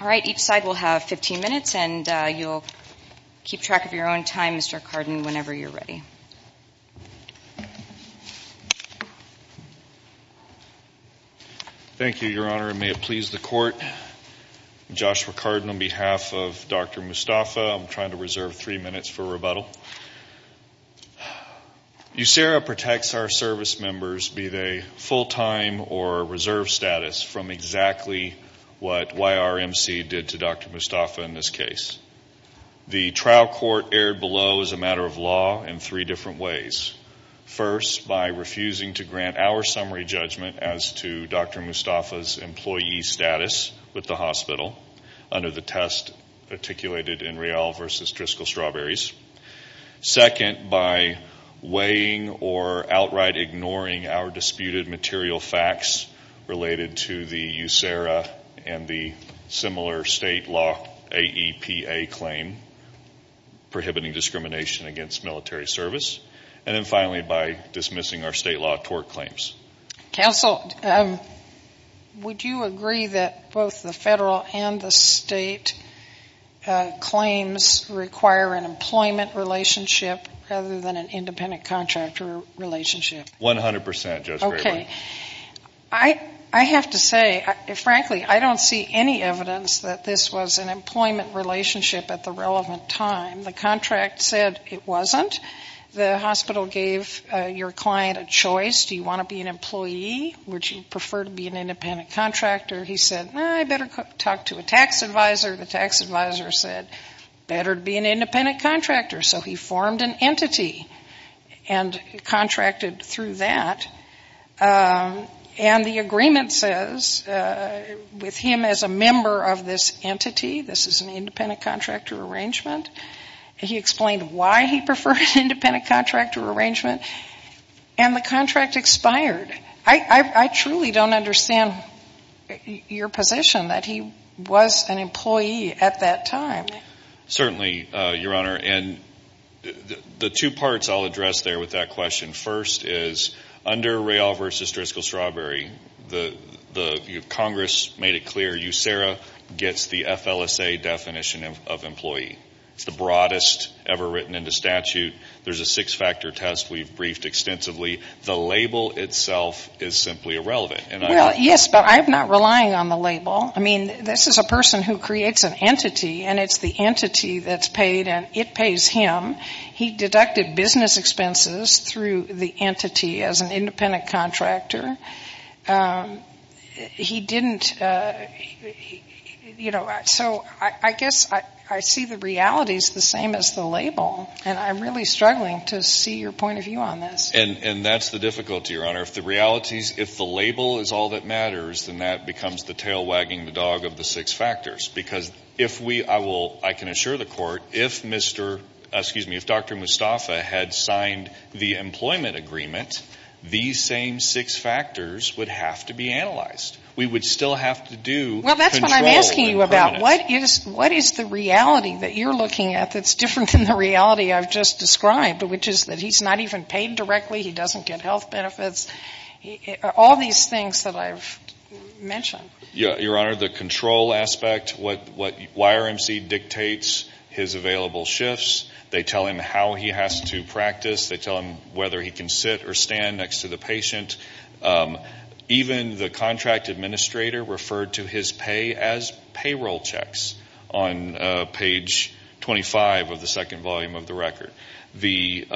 Alright, each side will have 15 minutes and you'll keep track of your own time, Mr. Cardin, whenever you're ready. Thank you, Your Honor, and may it please the Court. I'm Joshua Cardin on behalf of Dr. Mustafa. I'm trying to reserve three minutes for rebuttal. USERA protects our service members, be they full-time or reserve status, from exactly what YRMC did to Dr. Mustafa in this case. The trial court erred below as a matter of law in three different ways. First, by refusing to grant our summary judgment as to Dr. Mustafa's employee status with the hospital under the test articulated in Real v. Driscoll Strawberries. Second, by weighing or outright ignoring our disputed material facts related to the USERA and the similar state law AEPA claim, prohibiting discrimination against military service. And then finally, by dismissing our state law tort claims. Counsel, would you agree that both the federal and the state claims require an employment relationship rather than an independent contractor relationship? One hundred percent, Justice Brayboy. Okay. I have to say, frankly, I don't see any evidence that this was an employment relationship at the relevant time. The contract said it wasn't. The hospital gave your client a choice. Do you want to be an employee? Would you prefer to be an independent contractor? He said, no, I better talk to a tax advisor. The tax advisor said, better be an independent contractor. So he formed an entity and contracted through that. And the agreement says, with him as a member of this entity, this is an independent contractor arrangement. He explained why he preferred an independent contractor arrangement. And the contract expired. I truly don't understand your position that he was an employee at that time. Certainly, Your Honor. And the two parts I'll address there with that question. First is, under Real v. Driscoll-Strawberry, Congress made it clear USERRA gets the FLSA definition of employee. It's the broadest ever written into statute. There's a six-factor test we've briefed extensively. The label itself is simply irrelevant. Well, yes, but I'm not relying on the label. I mean, this is a person who creates an entity, and it's the entity that's paid, and it pays him. He deducted business expenses through the entity as an independent contractor. He didn't, you know, so I guess I see the realities the same as the label. And I'm really struggling to see your point of view on this. And that's the difficulty, Your Honor. If the label is all that matters, then that becomes the tail wagging the dog of the six factors. Because if we, I will, I can assure the Court, if Mr., excuse me, if Dr. Mustafa had signed the employment agreement, these same six factors would have to be analyzed. We would still have to do control. Well, that's what I'm asking you about. What is the reality that you're looking at that's different than the reality I've just described, which is that he's not even paid directly, he doesn't get health benefits, all these things that I've mentioned. Your Honor, the control aspect, what YRMC dictates, his available shifts. They tell him how he has to practice. They tell him whether he can sit or stand next to the patient. Even the contract administrator referred to his pay as payroll checks on page 25 of the second volume of the record. The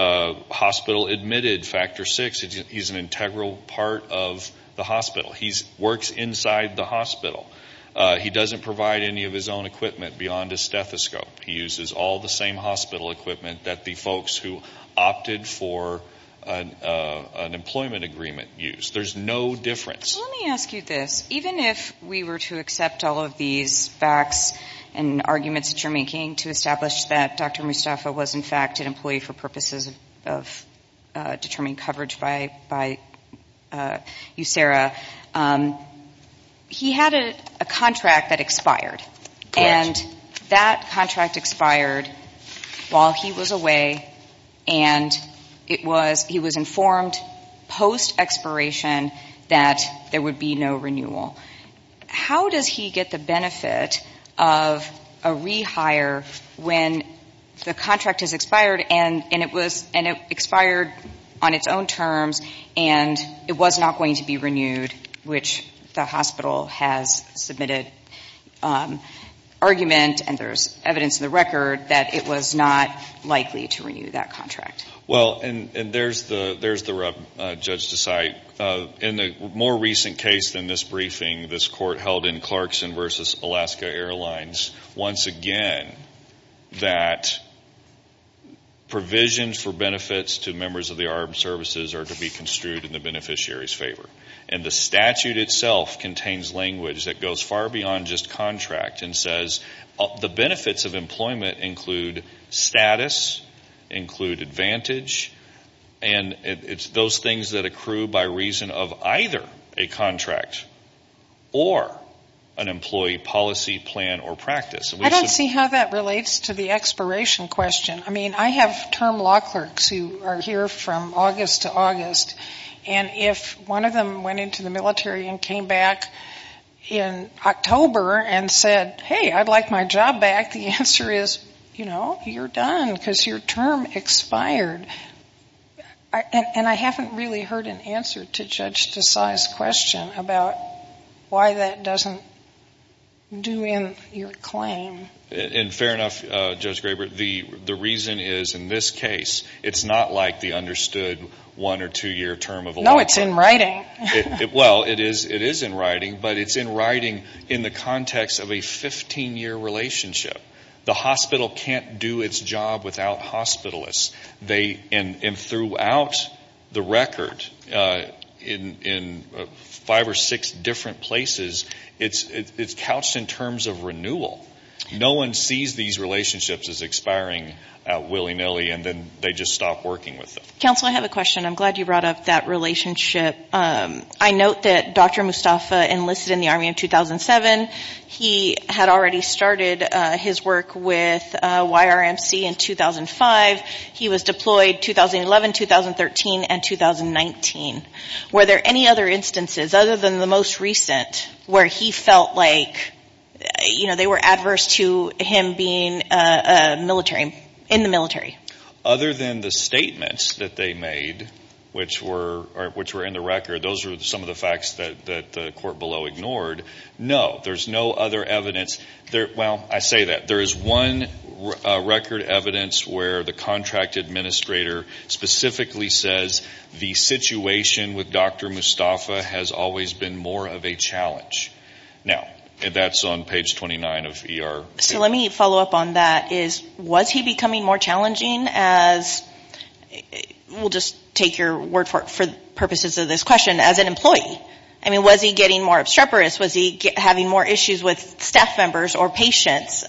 hospital admitted factor six. He's an integral part of the hospital. He works inside the hospital. He doesn't provide any of his own equipment beyond a stethoscope. He uses all the same hospital equipment that the folks who opted for an employment agreement use. There's no difference. Let me ask you this. Even if we were to accept all of these facts and arguments that you're making to establish that Dr. Mustafa was, in fact, an employee for purposes of determining coverage by USERRA, he had a contract that expired. And that contract expired while he was away, and he was informed post-expiration that there would be no renewal. How does he get the benefit of a rehire when the contract has expired and it expired on its own terms and it was not going to be renewed, which the hospital has submitted argument, and there's evidence in the record, that it was not likely to renew that contract? Well, and there's the rub, Judge Desai. In the more recent case than this briefing, this court held in Clarkson v. Alaska Airlines once again that provisions for benefits to members of the armed services are to be construed in the beneficiary's favor. And the statute itself contains language that goes far beyond just contract and says the benefits of employment include status, include advantage, and it's those things that accrue by reason of either a contract or an employee policy plan or practice. I don't see how that relates to the expiration question. I mean, I have term law clerks who are here from August to August, and if one of them went into the military and came back in October and said, hey, I'd like my job back, the answer is, you know, you're done because your term expired. And I haven't really heard an answer to Judge Desai's question about why that doesn't do in your claim. And fair enough, Judge Graber. The reason is in this case it's not like the understood one- or two-year term of a long term. No, it's in writing. Well, it is in writing, but it's in writing in the context of a 15-year relationship. The hospital can't do its job without hospitalists. And throughout the record, in five or six different places, it's couched in terms of renewal. No one sees these relationships as expiring willy-nilly and then they just stop working with them. Counsel, I have a question. I'm glad you brought up that relationship. I note that Dr. Mustafa enlisted in the Army in 2007. He had already started his work with YRMC in 2005. He was deployed 2011, 2013, and 2019. Were there any other instances other than the most recent where he felt like, you know, they were adverse to him being in the military? Other than the statements that they made, which were in the record, those were some of the facts that the court below ignored. No, there's no other evidence. Well, I say that. There is one record evidence where the contract administrator specifically says, the situation with Dr. Mustafa has always been more of a challenge. Now, that's on page 29 of ER. So let me follow up on that. Was he becoming more challenging as we'll just take your word for it for purposes of this question, as an employee? I mean, was he getting more obstreperous? Was he having more issues with staff members or patients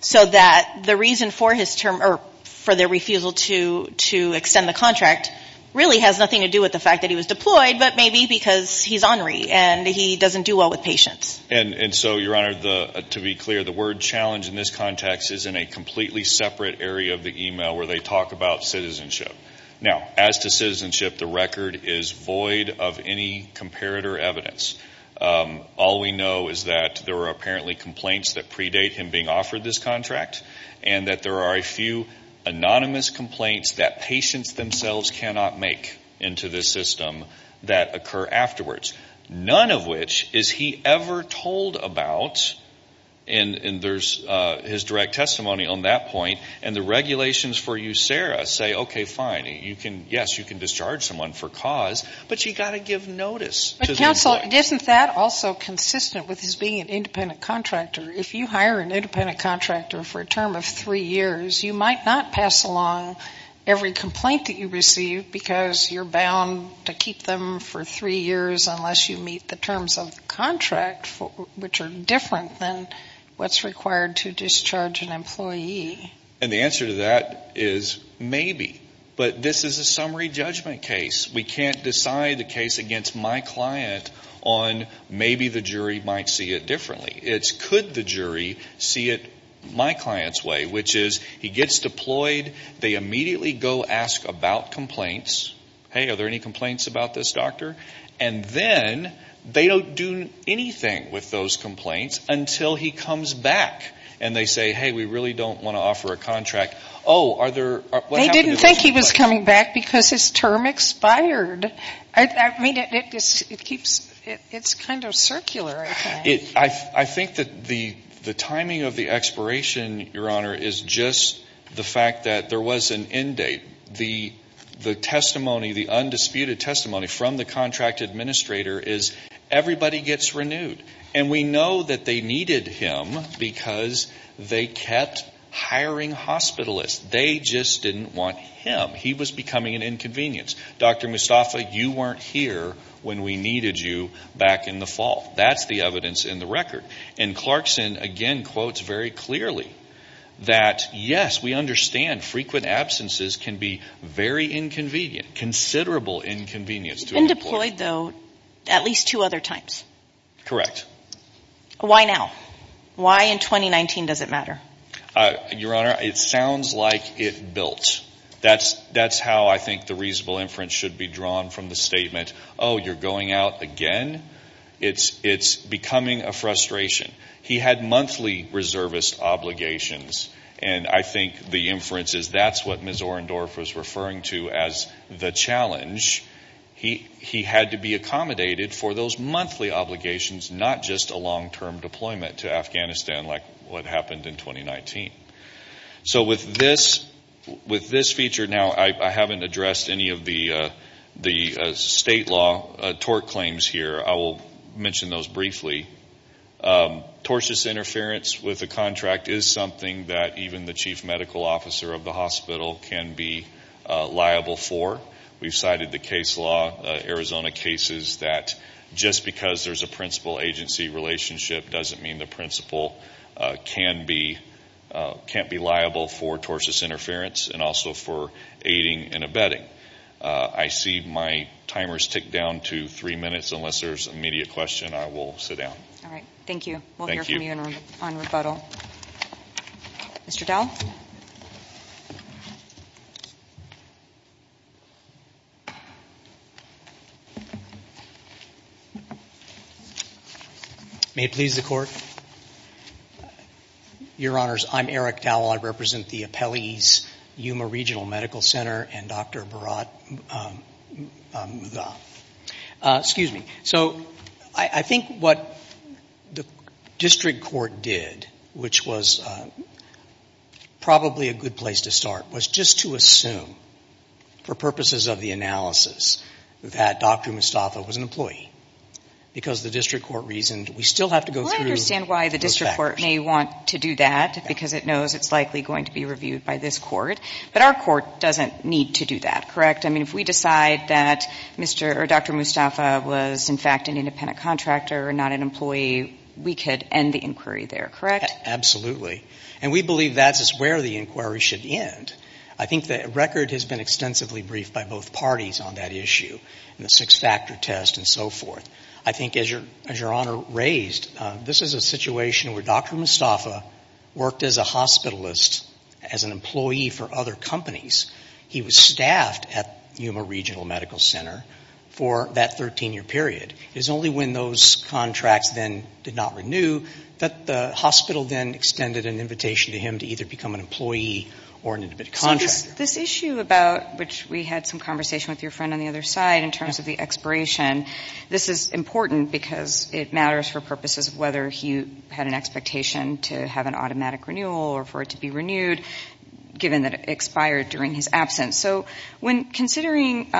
so that the reason for his term or for their refusal to extend the contract really has nothing to do with the fact that he was deployed, but maybe because he's honoree and he doesn't do well with patients. And so, Your Honor, to be clear, the word challenge in this context is in a completely separate area of the email where they talk about citizenship. Now, as to citizenship, the record is void of any comparator evidence. All we know is that there are apparently complaints that predate him being offered this contract and that there are a few anonymous complaints that patients themselves cannot make into this system that occur afterwards. None of which is he ever told about. And there's his direct testimony on that point. And the regulations for you, Sarah, say, okay, fine, yes, you can discharge someone for cause, but you've got to give notice to them. But, counsel, isn't that also consistent with his being an independent contractor? If you hire an independent contractor for a term of three years, you might not pass along every complaint that you receive because you're bound to keep them for three years unless you meet the terms of the contract, which are different than what's required to discharge an employee. And the answer to that is maybe. But this is a summary judgment case. We can't decide the case against my client on maybe the jury might see it differently. It's could the jury see it my client's way, which is he gets deployed, they immediately go ask about complaints. Hey, are there any complaints about this doctor? And then they don't do anything with those complaints until he comes back. And they say, hey, we really don't want to offer a contract. Oh, are there? They didn't think he was coming back because his term expired. I mean, it's kind of circular, I think. I think that the timing of the expiration, Your Honor, is just the fact that there was an end date. The testimony, the undisputed testimony from the contract administrator is everybody gets renewed. And we know that they needed him because they kept hiring hospitalists. They just didn't want him. He was becoming an inconvenience. Dr. Mustafa, you weren't here when we needed you back in the fall. That's the evidence in the record. And Clarkson, again, quotes very clearly that, yes, we understand frequent absences can be very inconvenient, considerable inconvenience. He's been deployed, though, at least two other times. Correct. Why now? Why in 2019 does it matter? Your Honor, it sounds like it built. That's how I think the reasonable inference should be drawn from the statement, oh, you're going out again? It's becoming a frustration. He had monthly reservist obligations. And I think the inference is that's what Ms. Orendorf was referring to as the challenge. He had to be accommodated for those monthly obligations, not just a long-term deployment to Afghanistan like what happened in 2019. So with this feature now, I haven't addressed any of the state law tort claims here. I will mention those briefly. Tortious interference with a contract is something that even the chief medical officer of the hospital can be liable for. We've cited the case law, Arizona cases, that just because there's a principal-agency relationship doesn't mean the principal can't be liable for tortious interference and also for aiding and abetting. I see my timer's ticked down to three minutes. Unless there's an immediate question, I will sit down. All right. Thank you. Thank you. We'll hear from you on rebuttal. Mr. Dowell? May it please the Court? Your Honors, I'm Eric Dowell. I represent the appellees, Yuma Regional Medical Center and Dr. Bharat Mutha. Excuse me. So I think what the district court did, which was probably a good place to start, was just to assume for purposes of the analysis that Dr. Mutha was an employee because the district court reasoned we still have to go through those facts. I understand why the district court may want to do that because it knows it's likely going to be reviewed by this court. But our court doesn't need to do that, correct? I mean, if we decide that Dr. Mutha was, in fact, an independent contractor and not an employee, we could end the inquiry there, correct? Absolutely. And we believe that's where the inquiry should end. I think the record has been extensively briefed by both parties on that issue, and the six-factor test and so forth. I think, as Your Honor raised, this is a situation where Dr. Mutha worked as a hospitalist, as an employee for other companies. He was staffed at Yuma Regional Medical Center for that 13-year period. It was only when those contracts then did not renew that the hospital then extended an invitation to him to either become an employee or an independent contractor. So this issue about which we had some conversation with your friend on the other side in terms of the expiration, this is important because it matters for purposes of whether he had an expectation to have an automatic renewal or for it to be renewed, given that it expired during his absence. So when considering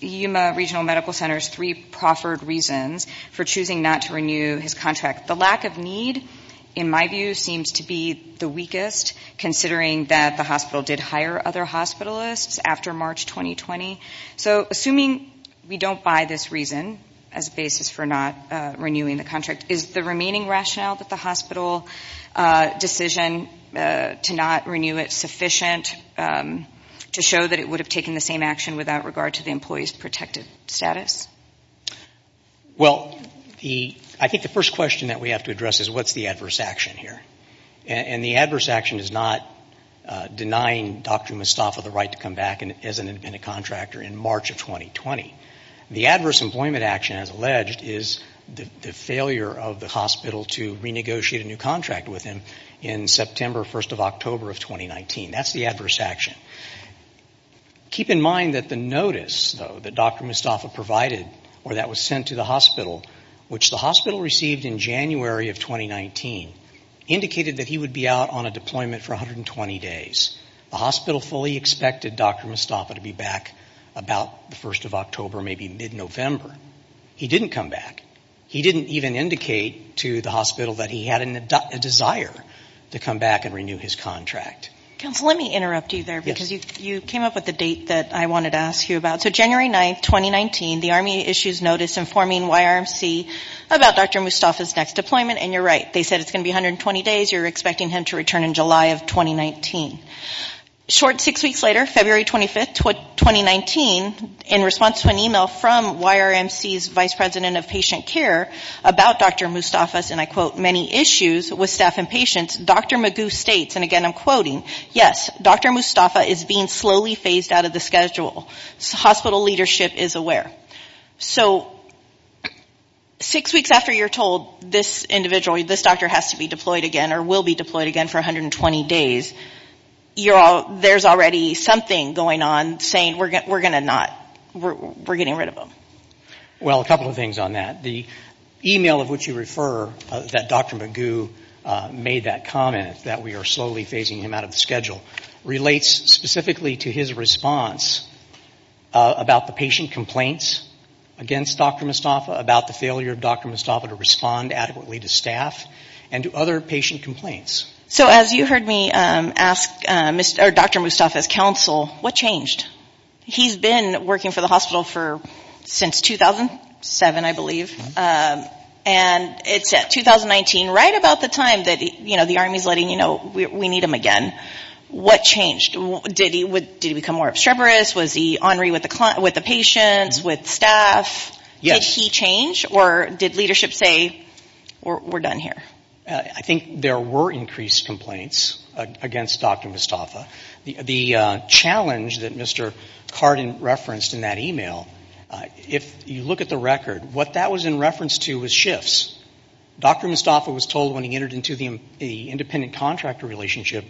Yuma Regional Medical Center's three proffered reasons for choosing not to renew his contract, the lack of need, in my view, seems to be the weakest, considering that the hospital did hire other hospitalists after March 2020. So assuming we don't buy this reason as a basis for not renewing the contract, is the remaining rationale that the hospital decision to not renew it sufficient to show that it would have taken the same action without regard to the employee's protected status? Well, I think the first question that we have to address is what's the adverse action here? And the adverse action is not denying Dr. Mustafa the right to come back as an independent contractor in March of 2020. The adverse employment action, as alleged, is the failure of the hospital to renegotiate a new contract with him in September 1st of October of 2019. That's the adverse action. Keep in mind that the notice, though, that Dr. Mustafa provided or that was sent to the hospital, which the hospital received in January of 2019, indicated that he would be out on a deployment for 120 days. The hospital fully expected Dr. Mustafa to be back about the 1st of October, maybe mid-November. He didn't come back. He didn't even indicate to the hospital that he had a desire to come back and renew his contract. Counsel, let me interrupt you there, because you came up with the date that I wanted to ask you about. So January 9th, 2019, the Army issues notice informing YRMC about Dr. Mustafa's next deployment, and you're right. They said it's going to be 120 days. You're expecting him to return in July of 2019. Short six weeks later, February 25th, 2019, in response to an email from YRMC's vice president of patient care about Dr. Mustafa's, and I quote, many issues with staff and patients, Dr. Magoo states, and again I'm quoting, yes, Dr. Mustafa is being slowly phased out of the schedule. Hospital leadership is aware. So six weeks after you're told this doctor has to be deployed again or will be deployed again for 120 days, there's already something going on saying we're going to not, we're getting rid of him. Well, a couple of things on that. The email of which you refer that Dr. Magoo made that comment that we are slowly phasing him out of the schedule relates specifically to his response about the patient complaints against Dr. Mustafa, about the failure of Dr. Mustafa to respond adequately to staff and to other patient complaints. So as you heard me ask Dr. Mustafa's counsel, what changed? He's been working for the hospital since 2007, I believe, and it's at 2019, right about the time that the Army is letting you know we need him again, what changed? Did he become more obstreperous? Was he ornery with the patients, with staff? Did he change or did leadership say we're done here? I think there were increased complaints against Dr. Mustafa. The challenge that Mr. Carden referenced in that email, if you look at the record, what that was in reference to was shifts. Dr. Mustafa was told when he entered into the independent contractor relationship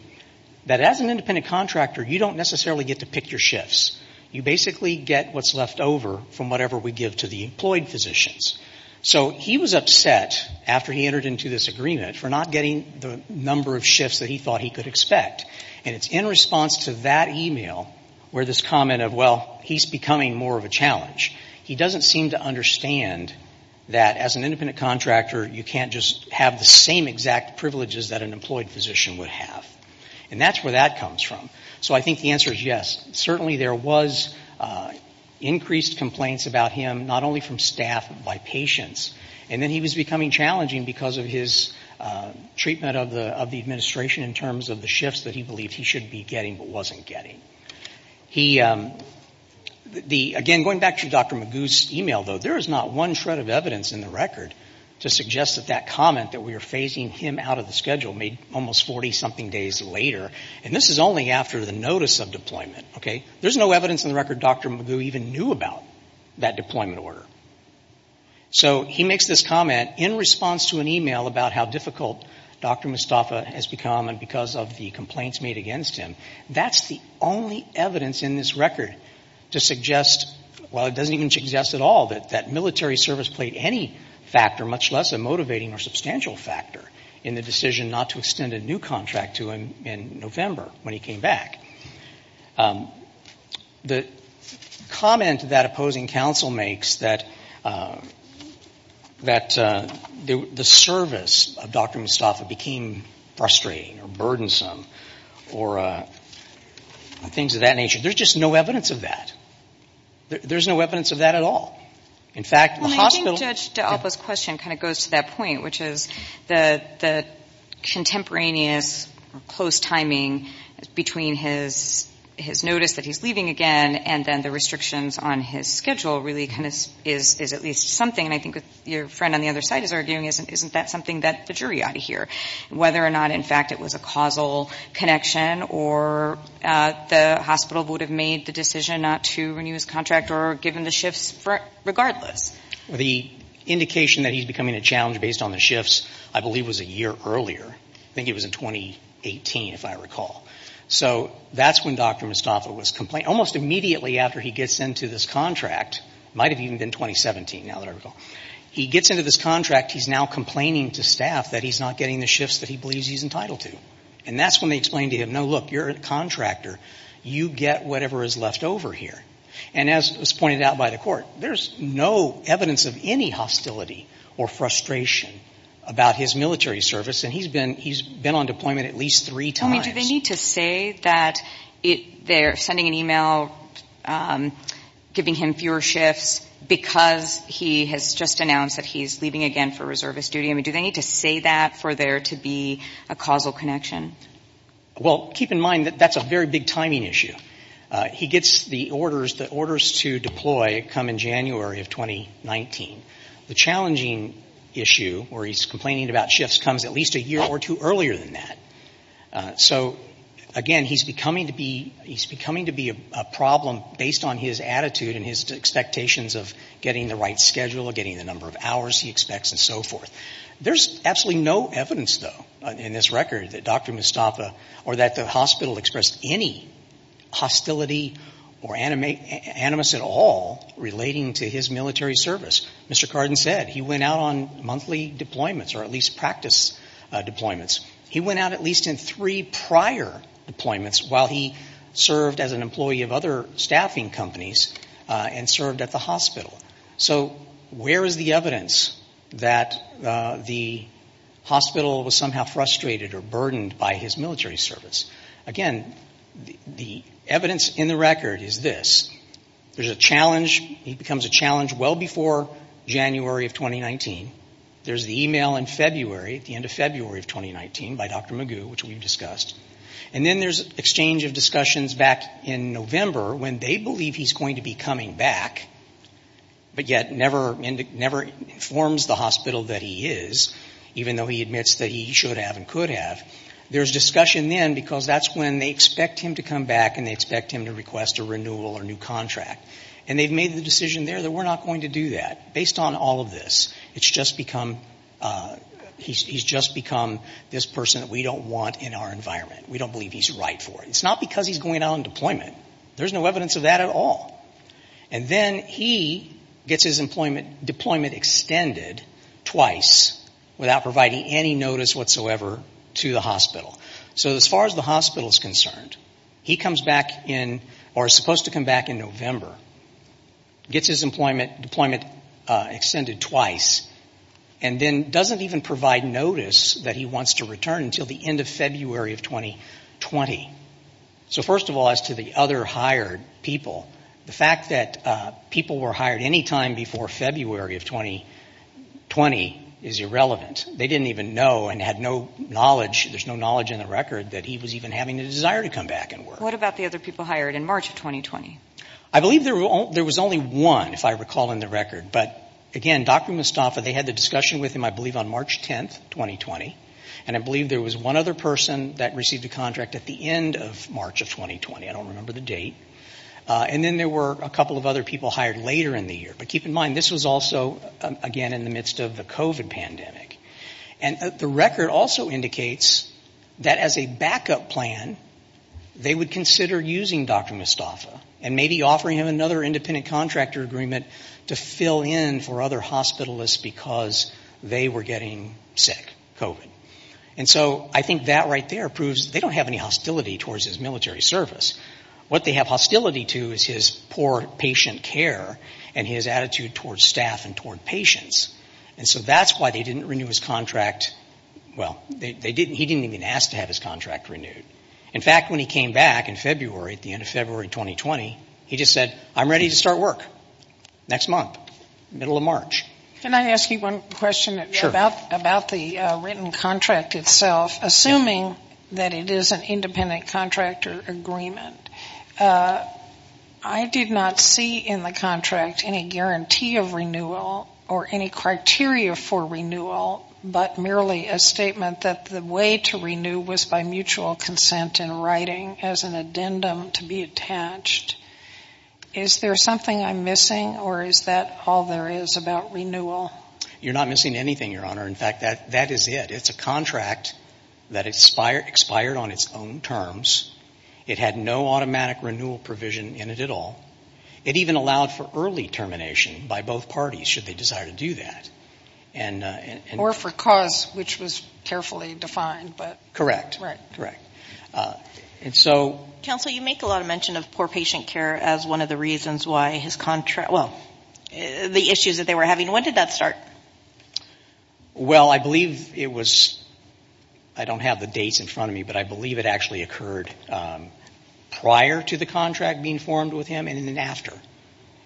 that as an independent contractor, you don't necessarily get to pick your shifts. You basically get what's left over from whatever we give to the employed physicians. So he was upset after he entered into this agreement for not getting the number of shifts that he thought he could expect. And it's in response to that email where this comment of, well, he's becoming more of a challenge, he doesn't seem to understand that as an independent contractor, you can't just have the same exact privileges that an employed physician would have. And that's where that comes from. So I think the answer is yes. Certainly there was increased complaints about him, not only from staff but by patients. And then he was becoming challenging because of his treatment of the administration in terms of the shifts that he believed he should be getting but wasn't getting. Again, going back to Dr. Magoo's email though, there is not one shred of evidence in the record to suggest that that comment that we are phasing him out of the schedule made almost 40-something days later. And this is only after the notice of deployment. There's no evidence in the record Dr. Magoo even knew about that deployment order. So he makes this comment in response to an email about how difficult Dr. Mustafa has become because of the complaints made against him. That's the only evidence in this record to suggest, well, it doesn't even suggest at all, that that military service played any factor, much less a motivating or substantial factor, in the decision not to extend a new contract to him in November when he came back. The comment that opposing counsel makes that the service of Dr. Mustafa became frustrating or burdensome or things of that nature, there's just no evidence of that. There's no evidence of that at all. In fact, the hospital — Well, I think Judge D'Alba's question kind of goes to that point, which is the contemporaneous or close timing between his notice that he's leaving again and then the restrictions on his schedule really kind of is at least something. And I think what your friend on the other side is arguing is isn't that something that the jury ought to hear? Whether or not, in fact, it was a causal connection or the hospital would have made the decision not to renew his contract or given the shifts regardless. The indication that he's becoming a challenge based on the shifts, I believe, was a year earlier. I think it was in 2018, if I recall. So that's when Dr. Mustafa was — almost immediately after he gets into this contract. It might have even been 2017, now that I recall. He gets into this contract. He's now complaining to staff that he's not getting the shifts that he believes he's entitled to. And that's when they explain to him, no, look, you're a contractor. You get whatever is left over here. And as was pointed out by the Court, there's no evidence of any hostility or frustration about his military service. And he's been on deployment at least three times. Tell me, do they need to say that they're sending an email giving him fewer shifts because he has just announced that he's leaving again for reservist duty? I mean, do they need to say that for there to be a causal connection? Well, keep in mind that that's a very big timing issue. He gets the orders to deploy come in January of 2019. The challenging issue where he's complaining about shifts comes at least a year or two earlier than that. So, again, he's becoming to be a problem based on his attitude and his expectations of getting the right schedule, getting the number of hours he expects, and so forth. There's absolutely no evidence, though, in this record that Dr. Mustafa or that the hospital expressed any hostility or animus at all relating to his military service. Mr. Cardin said he went out on monthly deployments or at least practice deployments. He went out at least in three prior deployments while he served as an employee of other staffing companies and served at the hospital. So where is the evidence that the hospital was somehow frustrated or burdened by his military service? Again, the evidence in the record is this. There's a challenge. He becomes a challenge well before January of 2019. There's the email in February, at the end of February of 2019, by Dr. Magoo, which we've discussed. And then there's exchange of discussions back in November when they believe he's going to be coming back, but yet never informs the hospital that he is, even though he admits that he should have and could have. There's discussion then because that's when they expect him to come back and they expect him to request a renewal or new contract. And they've made the decision there that we're not going to do that. Based on all of this, it's just become, he's just become this person that we don't want in our environment. We don't believe he's right for it. It's not because he's going out on deployment. There's no evidence of that at all. And then he gets his deployment extended twice without providing any notice whatsoever to the hospital. So as far as the hospital is concerned, he comes back in, or is supposed to come back in November, gets his deployment extended twice, and then doesn't even provide notice that he wants to return until the end of February of 2020. So first of all, as to the other hired people, the fact that people were hired any time before February of 2020 is irrelevant. They didn't even know and had no knowledge, there's no knowledge in the record, that he was even having a desire to come back and work. What about the other people hired in March of 2020? I believe there was only one, if I recall in the record. But again, Dr. Mustafa, they had the discussion with him, I believe, on March 10th, 2020. And I believe there was one other person that received a contract at the end of March of 2020. I don't remember the date. And then there were a couple of other people hired later in the year. But keep in mind, this was also, again, in the midst of the COVID pandemic. And the record also indicates that as a backup plan, they would consider using Dr. Mustafa and maybe offering him another independent contractor agreement to fill in for other hospitalists because they were getting sick, COVID. And so I think that right there proves they don't have any hostility towards his military service. What they have hostility to is his poor patient care and his attitude towards staff and toward patients. And so that's why they didn't renew his contract. Well, they didn't, he didn't even ask to have his contract renewed. In fact, when he came back in February, at the end of February 2020, he just said, I'm ready to start work next month, middle of March. Can I ask you one question about the written contract itself? Assuming that it is an independent contractor agreement, I did not see in the contract any guarantee of renewal or any criteria for renewal, but merely a statement that the way to renew was by mutual consent in writing as an addendum to be attached. Is there something I'm missing, or is that all there is about renewal? You're not missing anything, Your Honor. In fact, that is it. It's a contract that expired on its own terms. It had no automatic renewal provision in it at all. It even allowed for early termination by both parties, should they desire to do that. Or for cause, which was carefully defined. Correct, correct. Counsel, you make a lot of mention of poor patient care as one of the reasons why his contract, well, the issues that they were having. When did that start? Well, I believe it was, I don't have the dates in front of me, but I believe it actually occurred prior to the contract being formed with him and then after.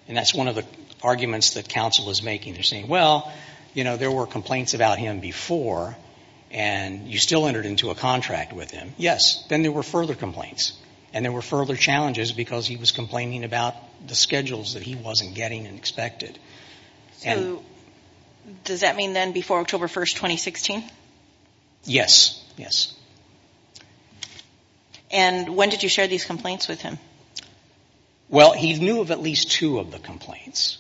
And that's one of the arguments that counsel is making. They're saying, well, you know, there were complaints about him before, and you still entered into a contract with him. Yes. Then there were further complaints, and there were further challenges because he was complaining about the schedules that he wasn't getting and expected. So does that mean then before October 1, 2016? Yes, yes. And when did you share these complaints with him? Well, he knew of at least two of the complaints.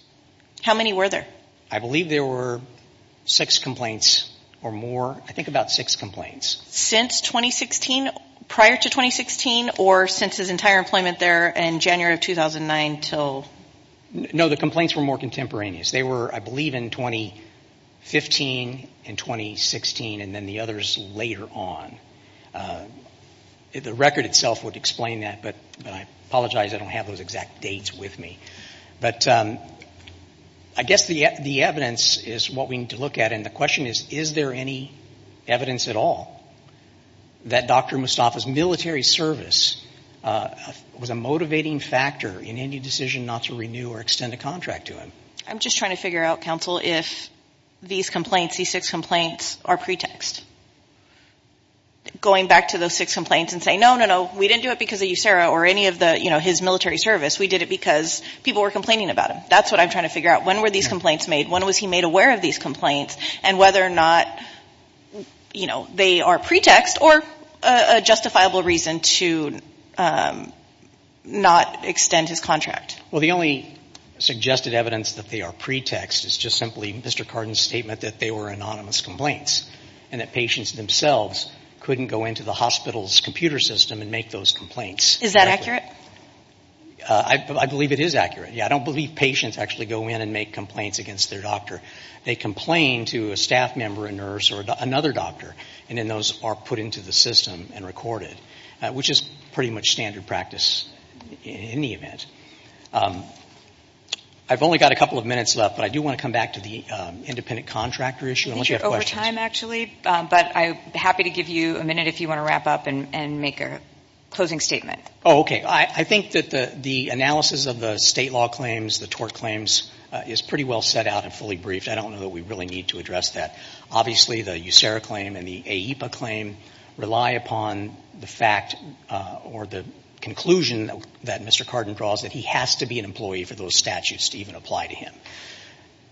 How many were there? I believe there were six complaints or more, I think about six complaints. Since 2016, prior to 2016, or since his entire employment there in January of 2009 until? No, the complaints were more contemporaneous. They were, I believe, in 2015 and 2016 and then the others later on. The record itself would explain that, but I apologize. I don't have those exact dates with me. But I guess the evidence is what we need to look at, and the question is, is there any evidence at all that Dr. Mustafa's military service was a motivating factor in any decision not to renew or extend a contract to him? I'm just trying to figure out, counsel, if these complaints, these six complaints, are pretext. Going back to those six complaints and saying, no, no, no, we didn't do it because of you, Sarah, or any of the, you know, his military service. We did it because people were complaining about him. That's what I'm trying to figure out. When were these complaints made? When was he made aware of these complaints and whether or not, you know, they are pretext or a justifiable reason to not extend his contract? Well, the only suggested evidence that they are pretext is just simply Mr. Carden's statement that they were anonymous complaints and that patients themselves couldn't go into the hospital's computer system and make those complaints. Is that accurate? I believe it is accurate. Yeah, I don't believe patients actually go in and make complaints against their doctor. They complain to a staff member, a nurse, or another doctor, and then those are put into the system and recorded, which is pretty much standard practice in any event. I've only got a couple of minutes left, but I do want to come back to the independent contractor issue. I think you're over time, actually, but I'm happy to give you a minute if you want to wrap up and make a closing statement. Oh, okay. I think that the analysis of the state law claims, the tort claims, is pretty well set out and fully briefed. I don't know that we really need to address that. Obviously, the USERRA claim and the AEPA claim rely upon the fact or the conclusion that Mr. Carden draws that he has to be an employee for those statutes to even apply to him.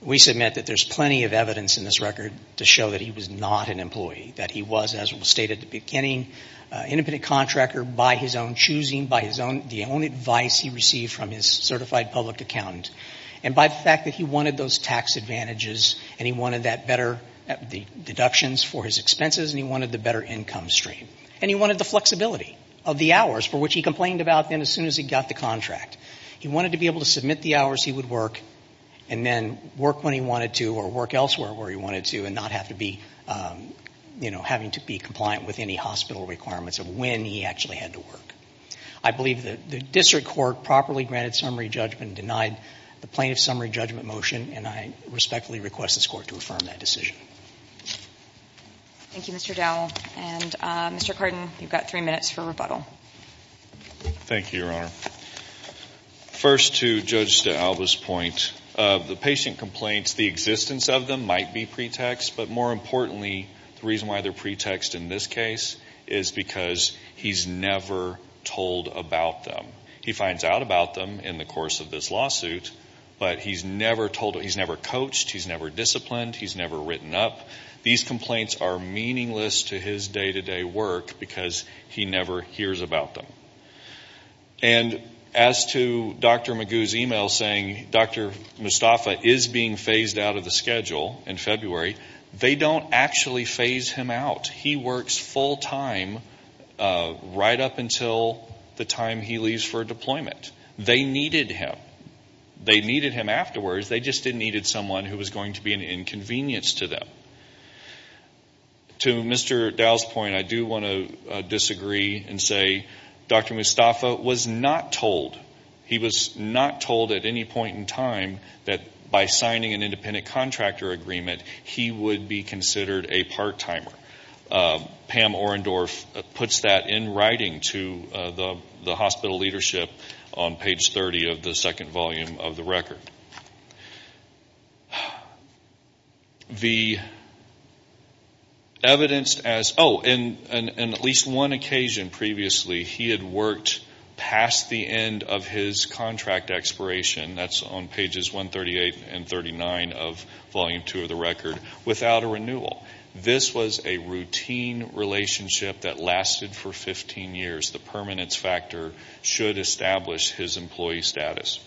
We submit that there's plenty of evidence in this record to show that he was not an employee, that he was, as was stated at the beginning, an independent contractor by his own choosing, by the only advice he received from his certified public accountant, and by the fact that he wanted those tax advantages and he wanted the deductions for his expenses and he wanted the better income stream, and he wanted the flexibility of the hours, for which he complained about then as soon as he got the contract. He wanted to be able to submit the hours he would work and then work when he wanted to or work elsewhere where he wanted to and not have to be, you know, having to be compliant with any hospital requirements of when he actually had to work. I believe that the district court properly granted summary judgment, denied the plaintiff's summary judgment motion, and I respectfully request this Court to affirm that decision. Thank you, Mr. Dowell. And, Mr. Carden, you've got three minutes for rebuttal. Thank you, Your Honor. First, to Judge DeAlba's point, the patient complaints, the existence of them might be pretext, but more importantly, the reason why they're pretext in this case is because he's never told about them. He finds out about them in the course of this lawsuit, but he's never told, he's never coached, he's never disciplined, he's never written up. These complaints are meaningless to his day-to-day work because he never hears about them. And as to Dr. Magoo's email saying Dr. Mustafa is being phased out of the schedule in February, they don't actually phase him out. He works full-time right up until the time he leaves for deployment. They needed him. They needed him afterwards. They just didn't need someone who was going to be an inconvenience to them. To Mr. Dow's point, I do want to disagree and say Dr. Mustafa was not told. He was not told at any point in time that by signing an independent contractor agreement, he would be considered a part-timer. Pam Orendorf puts that in writing to the hospital leadership on page 30 of the second volume of the record. On at least one occasion previously, he had worked past the end of his contract expiration, that's on pages 138 and 39 of volume two of the record, without a renewal. This was a routine relationship that lasted for 15 years. The permanence factor should establish his employee status.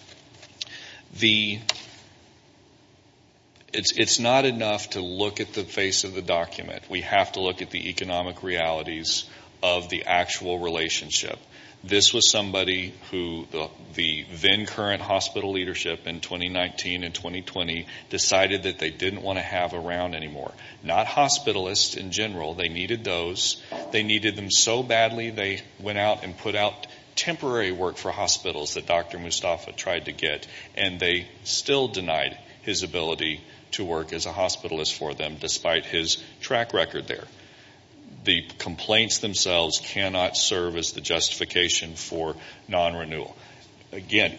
It's not enough to look at the face of the document. We have to look at the economic realities of the actual relationship. This was somebody who the then current hospital leadership in 2019 and 2020 decided that they didn't want to have around anymore. Not hospitalists in general. They needed those. They needed them so badly, they went out and put out temporary work for hospitals that Dr. Mustafa tried to get, and they still denied his ability to work as a hospitalist for them, despite his track record there. The complaints themselves cannot serve as the justification for non-renewal. Again,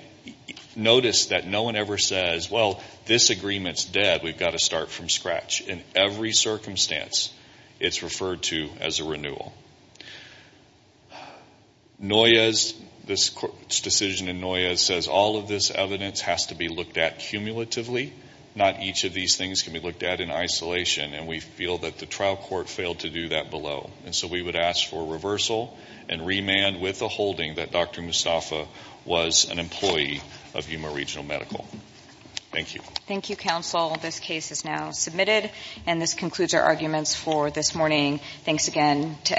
notice that no one ever says, well, this agreement's dead. We've got to start from scratch. In every circumstance, it's referred to as a renewal. Noyes, this court's decision in Noyes says all of this evidence has to be looked at cumulatively. Not each of these things can be looked at in isolation, and we feel that the trial court failed to do that below. And so we would ask for reversal and remand with the holding that Dr. Mustafa was an employee of Yuma Regional Medical. Thank you. Thank you, counsel. This case is now submitted, and this concludes our arguments for this morning. Thanks again to everybody.